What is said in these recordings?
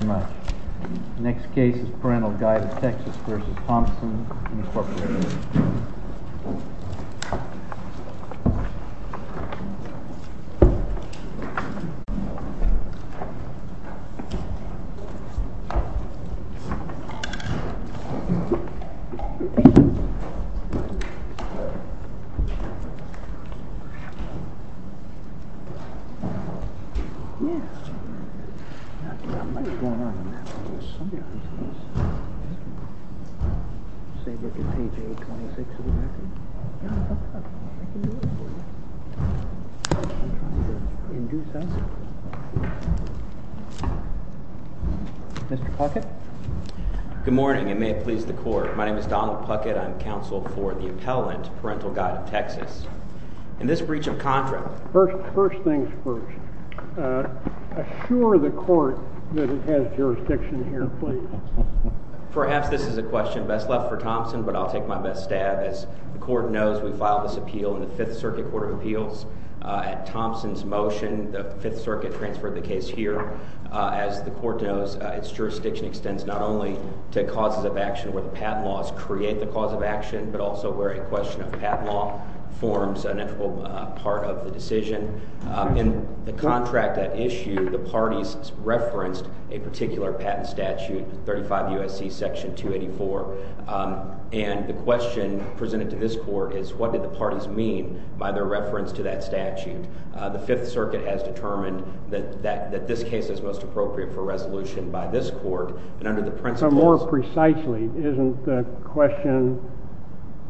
Thank you very much. The next case is Parental Guidance, Texas v. Thompson, Incorporated. Mr. Puckett? Good morning, and may it please the court. My name is Donald Puckett. I'm counsel for the appellant, Parental Guidance, Texas. In this breach of contract, first things first, assure the court that it has jurisdiction here, please. Perhaps this is a question best left for Thompson, but I'll take my best stab. As the court knows, we filed this appeal in the Fifth Circuit Court of Appeals. At Thompson's motion, the Fifth Circuit transferred the case here. As the court knows, its jurisdiction extends not only to causes of action where the patent laws create the cause of action, but also where a question of patent law forms an integral part of the decision. In the contract at issue, the parties referenced a particular patent statute, 35 U.S.C. Section 284, and the question presented to this court is, what did the parties mean by their reference to that statute? The Fifth Circuit has determined that this case is most appropriate for resolution by this court, and under the principles...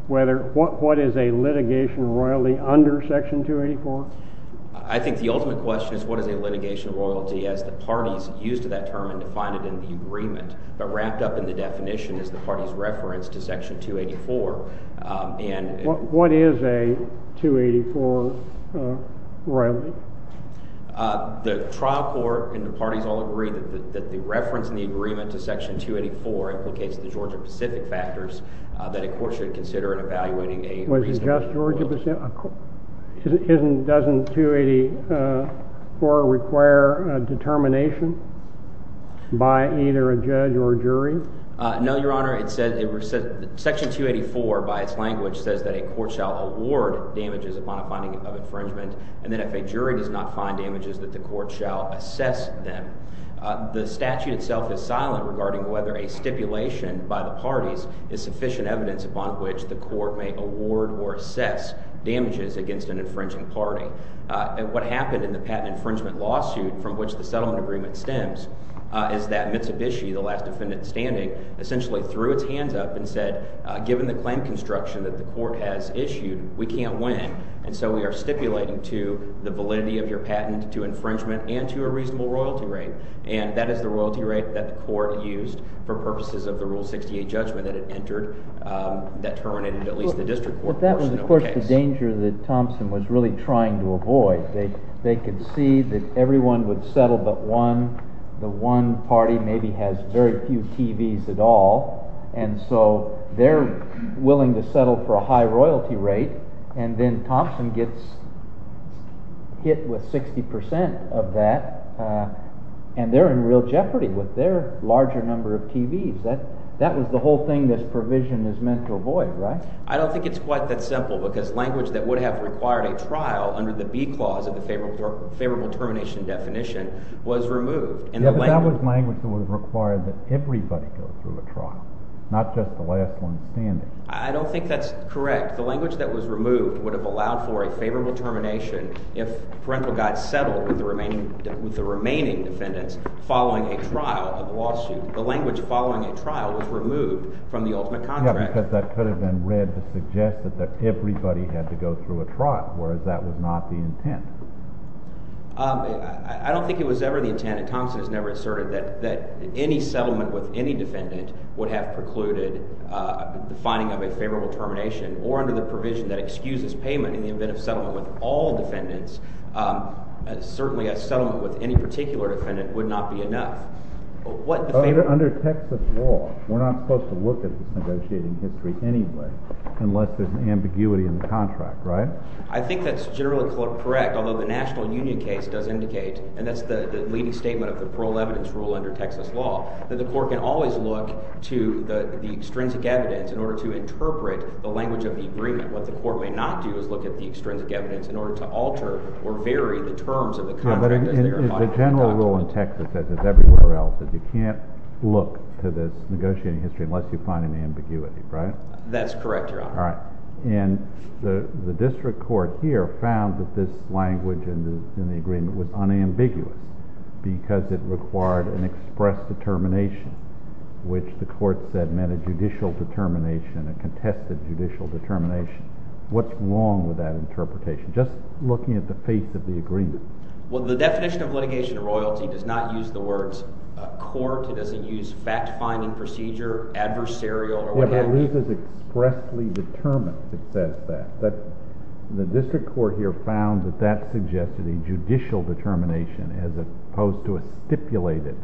What is a litigation royalty under Section 284? I think the ultimate question is what is a litigation royalty as the parties used that term and defined it in the agreement, but wrapped up in the definition is the parties reference to Section 284. What is a 284 royalty? The trial court and the parties all agree that the reference in the agreement to Section 284 implicates the Georgia-Pacific factors that a court should consider in evaluating a reasonable... Was it just Georgia-Pacific? Doesn't 284 require determination by either a judge or jury? No, Your Honor. Section 284, by its language, says that a court shall award damages upon a finding of infringement, and that if a jury does not find damages, that the court shall assess them. The statute itself is silent regarding whether a stipulation by the parties is sufficient evidence upon which the court may award or assess damages against an infringing party. What happened in the patent infringement lawsuit from which the settlement agreement stems is that Mitsubishi, the last defendant standing, essentially threw its hands up and said, given the claim construction that the court has issued, we can't win, and so we are stipulating to the validity of your patent, to infringement, and to a reasonable royalty rate. And that is the royalty rate that the court used for purposes of the Rule 68 judgment that it entered that terminated at least the district court portion of the case. But that was, of course, the danger that Thompson was really trying to avoid. They could see that everyone would settle but one. The one party maybe has very few TV's at all, and so they're willing to settle for a high royalty rate, and then Thompson gets hit with 60% of that, and they're in real jeopardy with their larger number of TV's. That was the whole thing this provision is meant to avoid, right? I don't think it's quite that simple because language that would have required a trial under the B clause of the favorable termination definition was removed. Yeah, but that was language that would have required that everybody go through a trial, not just the last one standing. I don't think that's correct. The language that was removed would have allowed for a favorable termination if parental got settled with the remaining defendants following a trial of the lawsuit. The language following a trial was removed from the ultimate contract. Yeah, because that could have been read to suggest that everybody had to go through a trial, whereas that was not the intent. I don't think it was ever the intent, and Thompson has never asserted that any settlement with any defendant would have precluded the finding of a favorable termination, or under the provision that excuses payment in the event of settlement with all defendants, certainly a settlement with any particular defendant would not be enough. Under Texas law, we're not supposed to look at the negotiating history anyway unless there's an ambiguity in the contract, right? I think that's generally correct, although the national union case does indicate, and that's the leading statement of the parole evidence rule under Texas law, that the court can always look to the extrinsic evidence in order to interpret the language of the agreement. What the court may not do is look at the extrinsic evidence in order to alter or vary the terms of the contract. The general rule in Texas, as is everywhere else, is you can't look to the negotiating history unless you find an ambiguity, right? That's correct, Your Honor. All right. And the district court here found that this language in the agreement was unambiguous because it required an express determination, which the court said meant a judicial determination, a contested judicial determination. What's wrong with that interpretation, just looking at the face of the agreement? Well, the definition of litigation of royalty does not use the words court. It doesn't use fact-finding procedure, adversarial, or whatever. But I believe it's expressly determined that says that. The district court here found that that suggested a judicial determination as opposed to a stipulated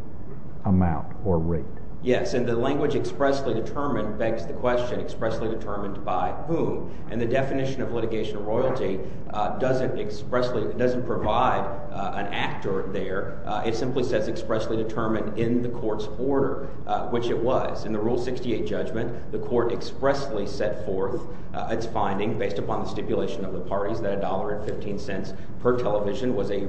amount or rate. Yes, and the language expressly determined begs the question, expressly determined by whom? And the definition of litigation of royalty doesn't expressly, doesn't provide an actor there. It simply says expressly determined in the court's order, which it was. In the court expressly set forth its finding, based upon the stipulation of the parties, that $1.15 per television was a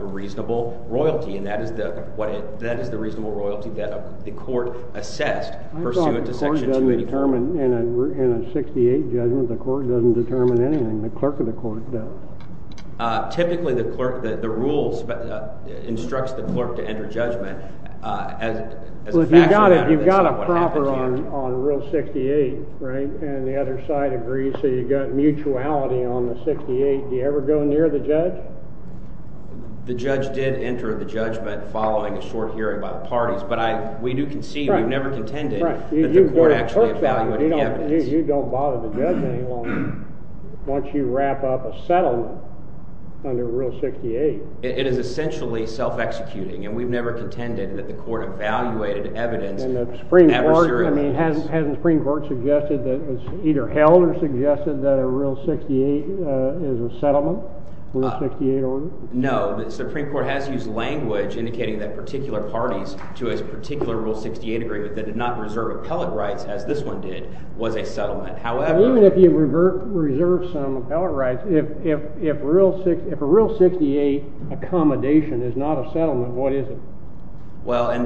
reasonable royalty. And that is the reasonable royalty that the court assessed pursuant to Section 2B. I thought the court doesn't determine, in a 68 judgment, the court doesn't determine anything. The clerk of the court does. Typically, the rule instructs the clerk to enter judgment as a factor. Well, if you've got a proper on Rule 68, and the other side agrees, so you've got mutuality on the 68, do you ever go near the judge? The judge did enter the judgment following a short hearing by the parties. But we do concede, we've never contended, that the court actually evaluated the evidence. You don't bother the judge any longer once you wrap up a settlement under Rule 68. It is essentially self-executing. And we've never contended that the court evaluated evidence And the Supreme Court, I mean, hasn't the Supreme Court suggested that it was either held or suggested that a Rule 68 is a settlement? Rule 68 order? No, the Supreme Court has used language indicating that particular parties to its particular Rule 68 agreement that did not reserve appellate rights, as this one did, was a settlement. Even if you reserve some appellate rights, if a Rule 68 accommodation is not a settlement, what is it?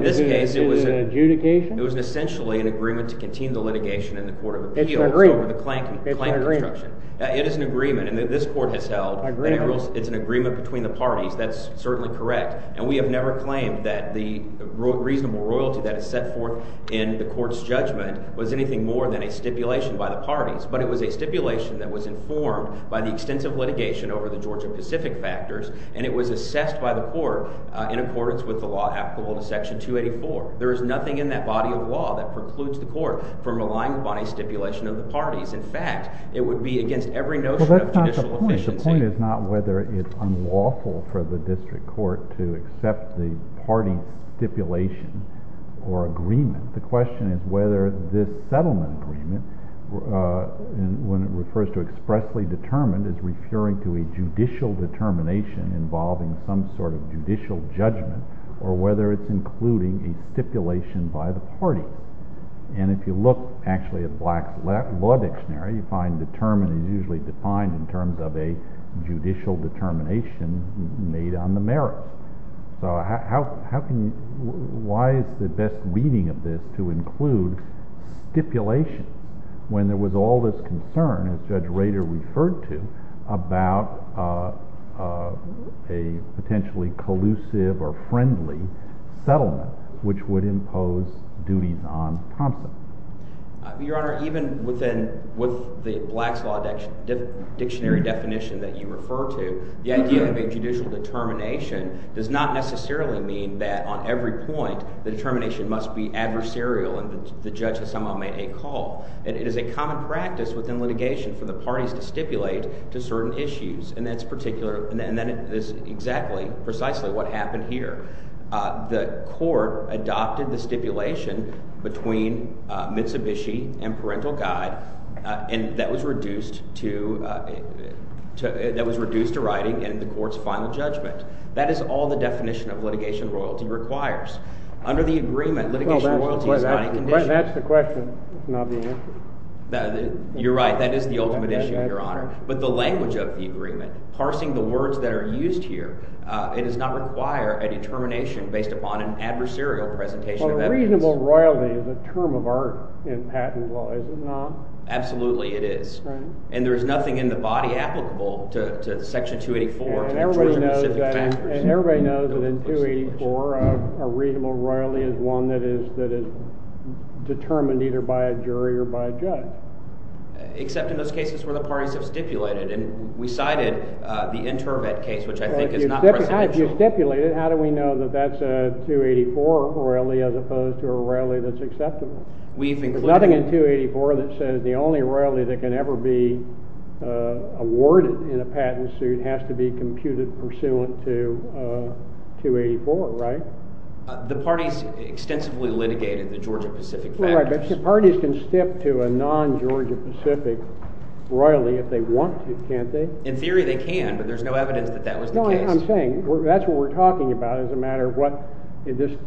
Is it an adjudication? Well, in this case, it was essentially an agreement to continue the litigation in the Court of Appeals over the Klanken construction. It's an agreement. It is an agreement, and this court has held that it's an agreement between the parties. That's certainly correct. And we have never claimed that the reasonable royalty that is set forth in the court's judgment was anything more than a stipulation by the parties. But it was a stipulation that was informed by the extensive litigation over the Georgia-Pacific factors, and it was assessed by the court in accordance with the law applicable to Section 284. There is nothing in that body of law that precludes the court from relying upon a stipulation of the parties. In fact, it would be against every notion of judicial efficiency. Well, that's not the point. The point is not whether it's unlawful for the district court to accept the party stipulation or agreement. The question is whether this settlement agreement, when it refers to expressly determined, is referring to a judicial determination involving some sort of judicial judgment, or whether it's including a stipulation by the parties. And if you look, actually, at Black's Law Dictionary, you find determined is usually defined in terms of a judicial determination made on the merits. So why is the best reading of this to include stipulation, when there was all this concern, as Judge Rader referred to, about a potentially collusive or friendly settlement, which would impose duties on Thompson? Your Honor, even with the Black's Law Dictionary definition that you refer to, the idea of a judicial determination does not necessarily mean that on every point the determination must be adversarial and the judge has somehow made a call. It is a common practice within litigation for the parties to stipulate to certain issues, and that is exactly, precisely what happened here. The court adopted the stipulation between Mitsubishi and Parental Guide, and that was reduced to writing in the court's final judgment. That is all the definition of litigation royalty requires. Under the agreement, litigation royalty is not a condition. Well, that's the question, not the answer. You're right. That is the ultimate issue, Your Honor. But the language of the agreement, parsing the words that are used here, it does not require a determination based upon an adversarial presentation of evidence. Well, reasonable royalty is a term of art in patent law, is it not? Absolutely it is. And there is nothing in the body applicable to Section 284. And everybody knows that in 284 a reasonable royalty is one that is determined either by a jury or by a judge. Except in those cases where the parties have stipulated, and we cited the Intervet case, which I think is not presidential. If you stipulate it, how do we know that that's a 284 royalty as opposed to a royalty that's acceptable? There's nothing in 284 that says the only royalty that can ever be awarded in a patent suit has to be computed pursuant to 284, right? The parties extensively litigated the Georgia-Pacific factors. All right, but parties can stip to a non-Georgia-Pacific royalty if they want to, can't they? In theory they can, but there's no evidence that that was the case. No, I'm saying that's what we're talking about as a matter of what this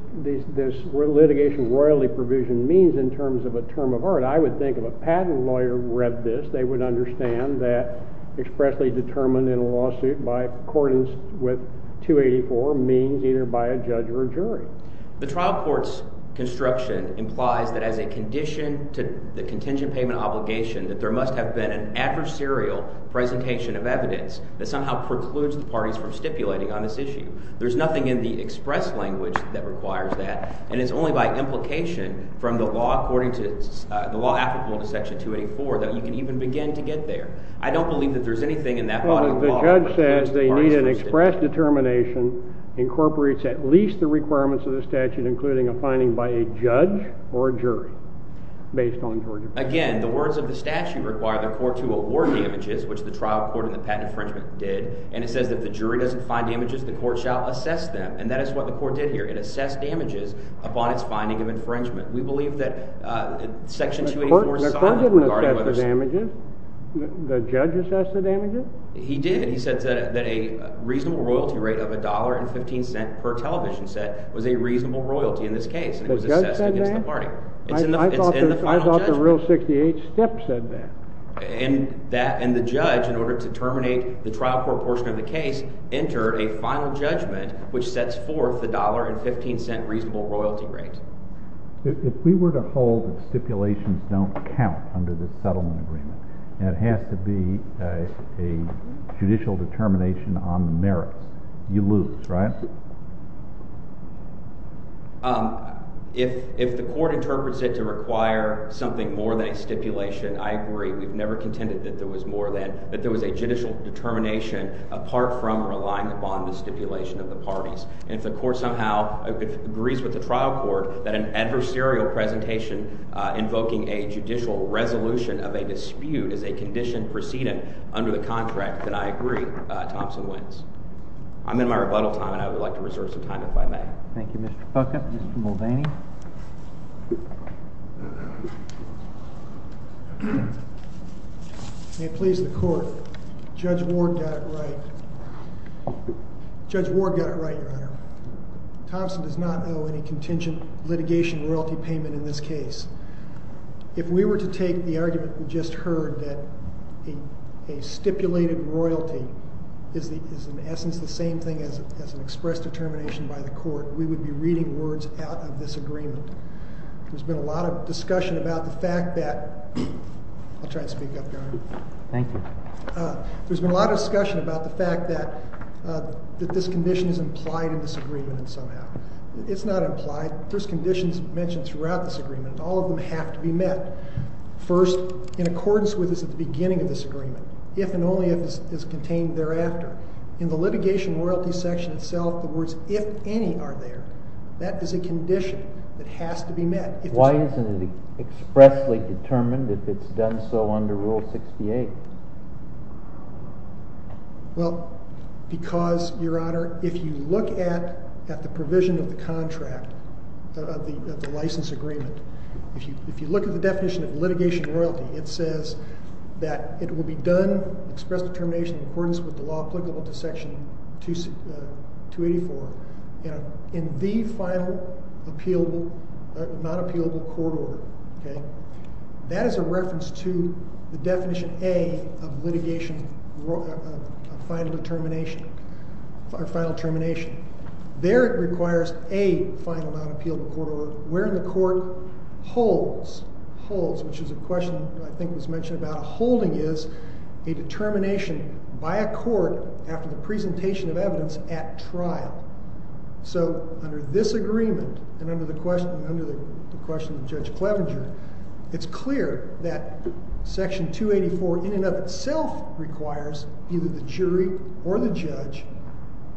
litigation royalty provision means in terms of a term of art. I would think if a patent lawyer read this, they would understand that expressly determined in a lawsuit by accordance with 284 means either by a judge or a jury. The trial court's construction implies that as a condition to the contingent payment obligation that there must have been an adversarial presentation of evidence that somehow precludes the parties from stipulating on this issue. There's nothing in the express language that requires that, and it's only by implication from the law applicable to Section 284 that you can even begin to get there. I don't believe that there's anything in that body of law that requires that. An express determination incorporates at least the requirements of the statute, including a finding by a judge or a jury based on Georgia-Pacific. Again, the words of the statute require the court to award damages, which the trial court in the patent infringement did, and it says that if the jury doesn't find damages, the court shall assess them, and that is what the court did here. It assessed damages upon its finding of infringement. We believe that Section 284… The court didn't assess the damages. The judge assessed the damages. He did. He said that a reasonable royalty rate of $1.15 per television set was a reasonable royalty in this case. The judge said that? It was assessed against the party. I thought the Rule 68 step said that. And the judge, in order to terminate the trial court portion of the case, entered a final judgment which sets forth the $1.15 reasonable royalty rate. If we were to hold that stipulations don't count under this settlement agreement, it has to be a judicial determination on the merits. You lose, right? If the court interprets it to require something more than a stipulation, I agree we've never contended that there was a judicial determination apart from relying upon the stipulation of the parties. And if the court somehow agrees with the trial court that an adversarial presentation invoking a judicial resolution of a dispute is a condition preceded under the contract, then I agree Thompson wins. I'm in my rebuttal time, and I would like to reserve some time if I may. Thank you, Mr. Puckett. Mr. Mulvaney? May it please the court, Judge Ward got it right. Judge Ward got it right, Your Honor. Thompson does not owe any contingent litigation royalty payment in this case. If we were to take the argument we just heard that a stipulated royalty is in essence the same thing as an expressed determination by the court, we would be reading words out of this agreement. There's been a lot of discussion about the fact that... I'll try to speak up, Your Honor. Thank you. There's been a lot of discussion about the fact that this condition is implied in this agreement somehow. It's not implied. There's conditions mentioned throughout this agreement, and all of them have to be met. First, in accordance with this at the beginning of this agreement, if and only if it's contained thereafter. In the litigation royalty section itself, the words if any are there. That is a condition that has to be met. Why isn't it expressly determined if it's done so under Rule 68? Because, Your Honor, if you look at the provision of the contract, of the license agreement, if you look at the definition of litigation royalty, it says that it will be done, expressed determination in accordance with the law applicable to Section 284. In the final non-appealable court order. That is a reference to the definition A of litigation final determination. There it requires a final non-appealable court order, wherein the court holds, which is a question I think was mentioned about, holding is a determination by a court after the presentation of evidence at trial. So, under this agreement, and under the question of Judge Clevenger, it's clear that Section 284 in and of itself requires either the jury or the judge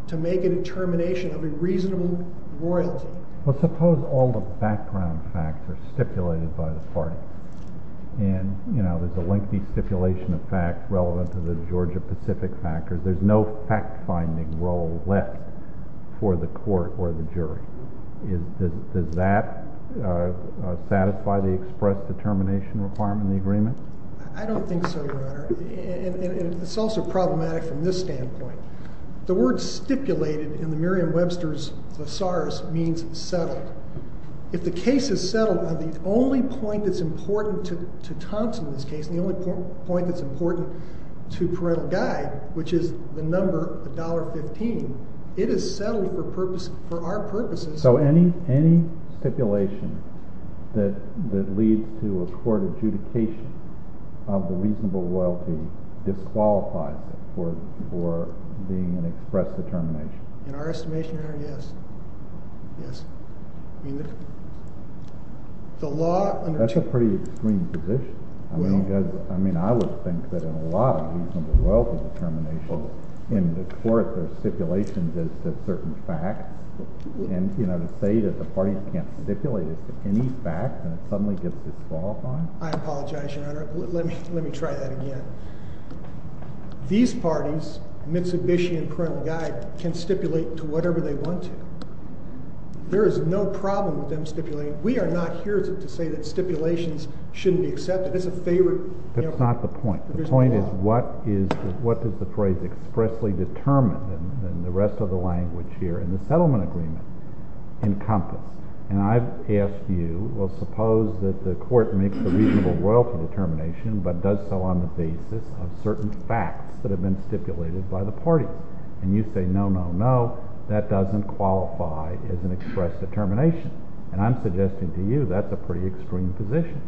to make a determination of a reasonable royalty. Well, suppose all the background facts are stipulated by the party. And, you know, there's a lengthy stipulation of facts relevant to the Georgia Pacific factors. There's no fact-finding role left for the court or the jury. Does that satisfy the express determination requirement in the agreement? I don't think so, Your Honor. And it's also problematic from this standpoint. The word stipulated in the Merriam-Webster's thesaurus means settled. If the case is settled, the only point that's important to Thompson in this case, the only point that's important to parental guide, which is the number $1.15, it is settled for our purposes. So any stipulation that leads to a court adjudication of the reasonable royalty disqualifies it for being an express determination? In our estimation, Your Honor, yes. Yes. That's a pretty extreme position. I mean, I would think that in a lot of reasonable royalty determination, in the court, there's stipulations as to certain facts. And, you know, to say that the parties can't stipulate it to any fact and it suddenly gets disqualified? I apologize, Your Honor. Let me try that again. These parties, Mitsubishi and parental guide, can stipulate to whatever they want to. There is no problem with them stipulating. We are not here to say that stipulations shouldn't be accepted. That's a favorite. That's not the point. The point is what does the phrase expressly determined and the rest of the language here in the settlement agreement encompass? And I've asked you, well, suppose that the court makes a reasonable royalty determination but does so on the basis of certain facts that have been stipulated by the parties. And you say, no, no, no, that doesn't qualify as an express determination. And I'm suggesting to you that's a pretty extreme position.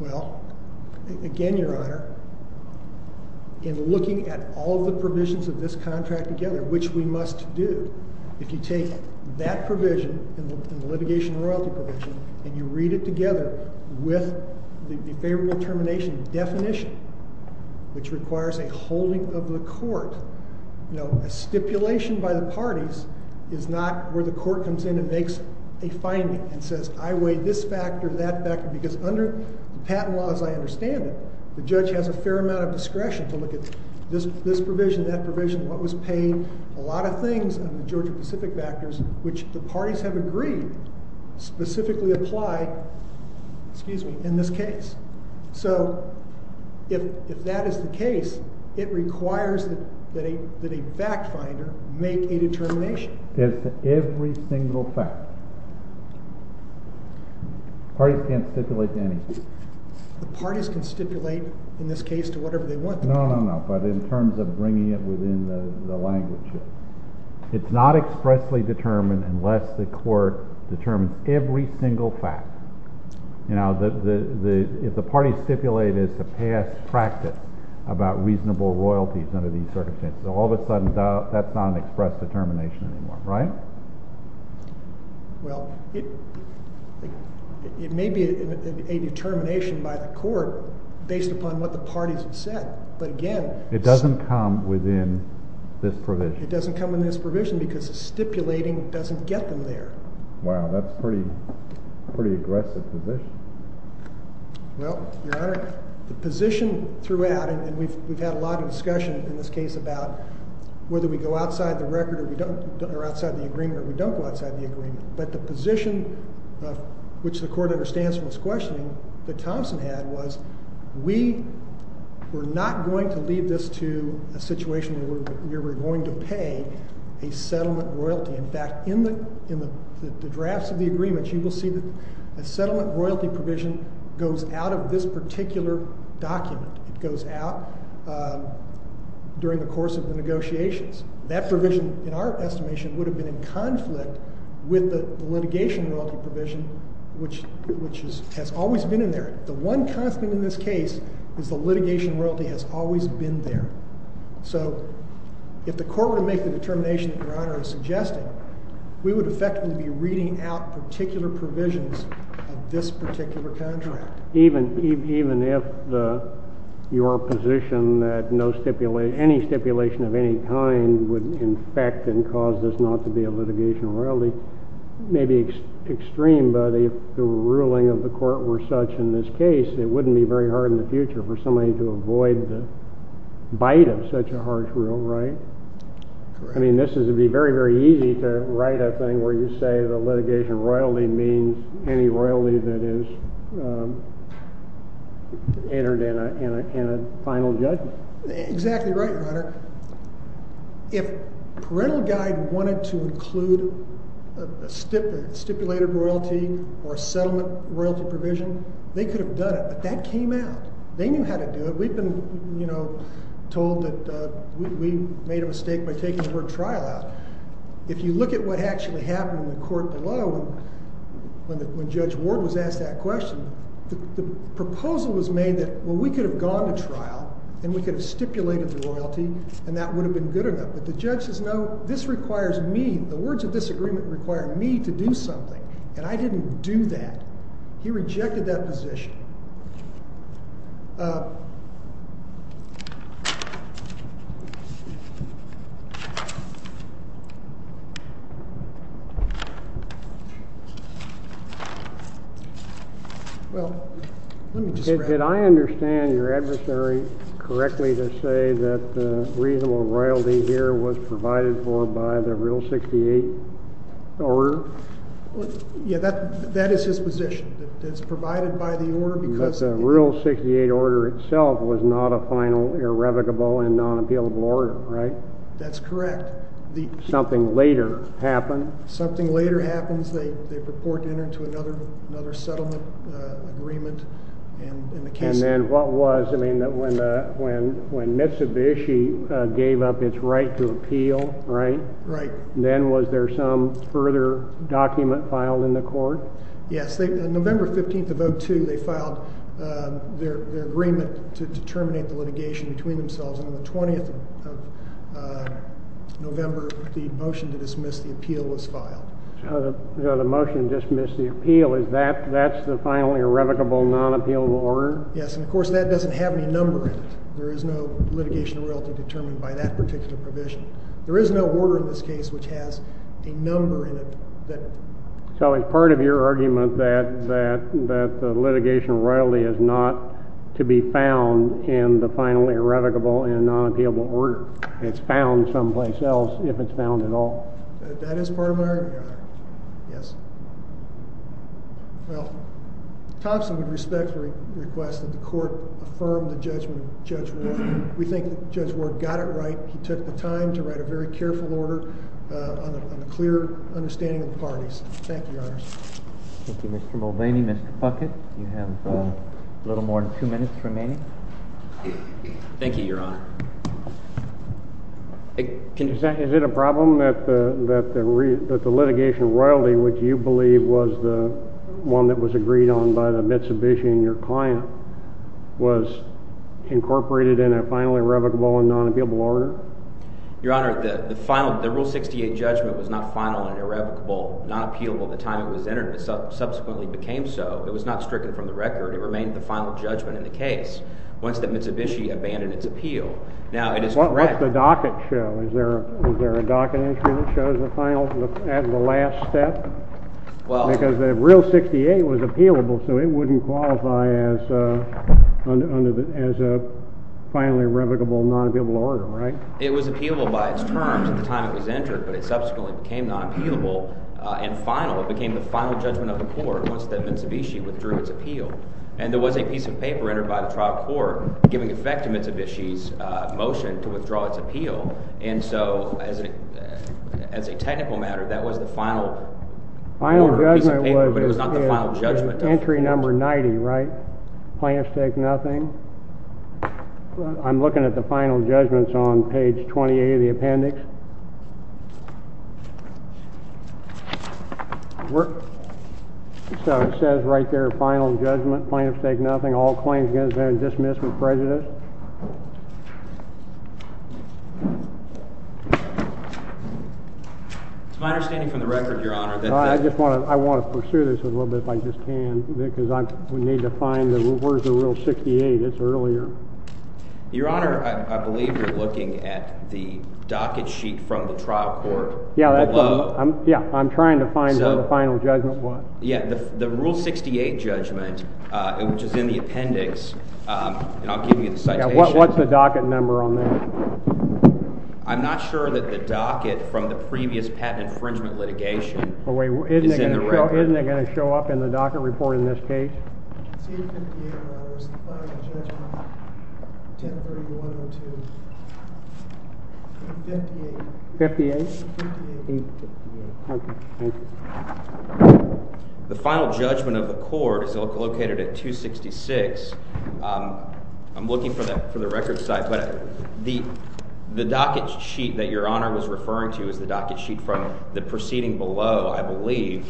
Well, again, Your Honor, in looking at all the provisions of this contract together, which we must do, if you take that provision and the litigation royalty provision and you read it together with the favorable determination definition, which requires a holding of the court, a stipulation by the parties is not where the court comes in and makes a finding and says I weigh this factor, that factor, because under patent laws, I understand it, the judge has a fair amount of discretion to look at this provision, that provision, what was paid, a lot of things of the Georgia-Pacific factors, which the parties have agreed specifically apply in this case. So if that is the case, it requires that a fact finder make a determination. It's every single fact. Parties can't stipulate to anything. The parties can stipulate, in this case, to whatever they want. No, no, no, but in terms of bringing it within the language. It's not expressly determined unless the court determines every single fact. If the parties stipulate it's a past practice about reasonable royalties under these circumstances, all of a sudden that's not an express determination anymore, right? Well, it may be a determination by the court based upon what the parties have said, but again. It doesn't come within this provision. It doesn't come within this provision because the stipulating doesn't get them there. Wow, that's a pretty aggressive position. Well, Your Honor, the position throughout, and we've had a lot of discussion in this case about whether we go outside the record or outside the agreement or we don't go outside the agreement, but the position, which the court understands from this questioning that Thompson had, was we were not going to leave this to a situation where we were going to pay a settlement royalty. In fact, in the drafts of the agreement, you will see that a settlement royalty provision goes out of this particular document. It goes out during the course of the negotiations. That provision, in our estimation, would have been in conflict with the litigation royalty provision, which has always been in there. The one conflict in this case is the litigation royalty has always been there. So if the court were to make the determination that Your Honor is suggesting, we would effectively be reading out particular provisions of this particular contract. Even if your position that any stipulation of any kind would in fact cause this not to be a litigation royalty may be extreme, but if the ruling of the court were such in this case, it wouldn't be very hard in the future for somebody to avoid the bite of such a harsh rule, right? I mean, this would be very, very easy to write a thing where you say the litigation royalty means any royalty that is entered in a final judgment. Exactly right, Your Honor. If Parental Guide wanted to include a stipulated royalty or a settlement royalty provision, they could have done it, but that came out. They knew how to do it. We've been told that we made a mistake by taking the word trial out. If you look at what actually happened in the court below when Judge Ward was asked that question, the proposal was made that, well, we could have gone to trial, and we could have stipulated the royalty, and that would have been good enough. But the judge says, no, this requires me, the words of disagreement require me to do something, and I didn't do that. He rejected that position. Well, let me just wrap up. Did I understand your adversary correctly to say that reasonable royalty here was provided for by the Rule 68 order? Yeah, that is his position, that it's provided by the order because But the Rule 68 order itself was not a final irrevocable and non-appealable order, right? That's correct. Something later happened. Something later happens. They purport to enter into another settlement agreement. And then what was, I mean, when Mitsubishi gave up its right to appeal, right? Right. Then was there some further document filed in the court? Yes. On November 15th of 2002, they filed their agreement to determinate the litigation between themselves, and on the 20th of November, the motion to dismiss the appeal was filed. So the motion to dismiss the appeal, is that the final irrevocable non-appealable order? Yes, and of course that doesn't have any number in it. There is no litigation of royalty determined by that particular provision. There is no order in this case which has a number in it. So it's part of your argument that litigation of royalty is not to be found in the final irrevocable and non-appealable order. It's found someplace else, if it's found at all. That is part of my argument, yes. Well, Thompson would respectfully request that the court affirm the judgment of Judge Ward. We think Judge Ward got it right. He took the time to write a very careful order on a clear understanding of the parties. Thank you, Your Honor. Thank you, Mr. Mulvaney. Mr. Puckett, you have a little more than two minutes remaining. Thank you, Your Honor. Is it a problem that the litigation of royalty, which you believe was the one that was agreed on by the Mitsubishi and your client, was incorporated in a final irrevocable and non-appealable order? Your Honor, the rule 68 judgment was not final and irrevocable, non-appealable the time it was entered. It subsequently became so. It was not stricken from the record. It remained the final judgment in the case once the Mitsubishi abandoned its appeal. Now, it is correct— What's the docket show? Is there a docket instrument that shows the final, the last step? Because the rule 68 was appealable, so it wouldn't qualify as a finally irrevocable, non-appealable order, right? It was appealable by its terms at the time it was entered, but it subsequently became non-appealable and final. It became the final judgment of the court once the Mitsubishi withdrew its appeal. And there was a piece of paper entered by the trial court giving effect to Mitsubishi's motion to withdraw its appeal. And so, as a technical matter, that was the final piece of paper, but it was not the final judgment. Entry number 90, right? Plaintiff's take nothing. I'm looking at the final judgments on page 28 of the appendix. So it says right there, final judgment, plaintiff's take nothing, all claims against them are dismissed with prejudice. It's my understanding from the record, Your Honor, that— I want to pursue this a little bit if I just can, because we need to find the—where's the rule 68? It's earlier. Your Honor, I believe you're looking at the docket sheet from the trial court below. Yeah, I'm trying to find where the final judgment was. Yeah, the rule 68 judgment, which is in the appendix, and I'll give you the citation. What's the docket number on that? I'm not sure that the docket from the previous patent infringement litigation is in the record. Isn't it going to show up in the docket report in this case? 58? The final judgment of the court is located at 266. I'm looking for the record site, but the docket sheet that Your Honor was referring to is the docket sheet from the proceeding below, I believe.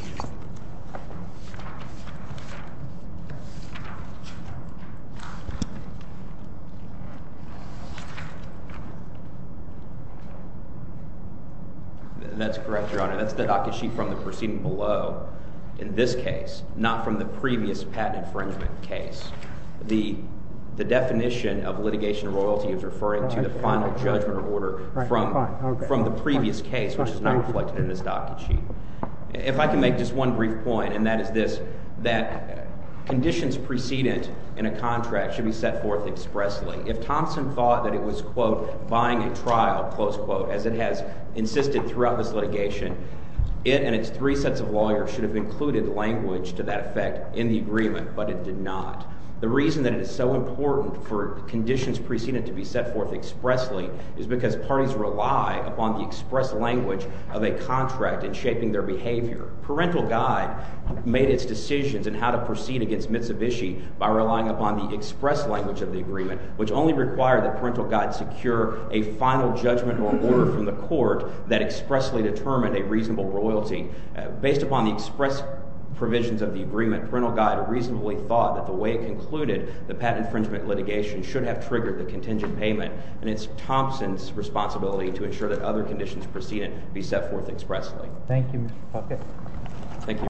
That's correct, Your Honor. That's the docket sheet from the proceeding below in this case, not from the previous patent infringement case. The definition of litigation royalty is referring to the final judgment order from the previous case, which is not reflected in this docket sheet. If I can make just one brief point, and that is this, that conditions precedent in a contract should be set forth expressly. If Thompson thought that it was, quote, buying a trial, close quote, as it has insisted throughout this litigation, it and its three sets of lawyers should have included language to that effect in the agreement, but it did not. The reason that it is so important for conditions precedent to be set forth expressly is because parties rely upon the express language of a contract in shaping their behavior. Parental Guide made its decisions in how to proceed against Mitsubishi by relying upon the express language of the agreement, which only required that Parental Guide secure a final judgment or order from the court that expressly determined a reasonable royalty. Based upon the express provisions of the agreement, Parental Guide reasonably thought that the way it concluded the patent infringement litigation should have triggered the contingent payment, and it's Thompson's responsibility to ensure that other conditions precedent be set forth expressly. Thank you, Mr. Pocket. Thank you.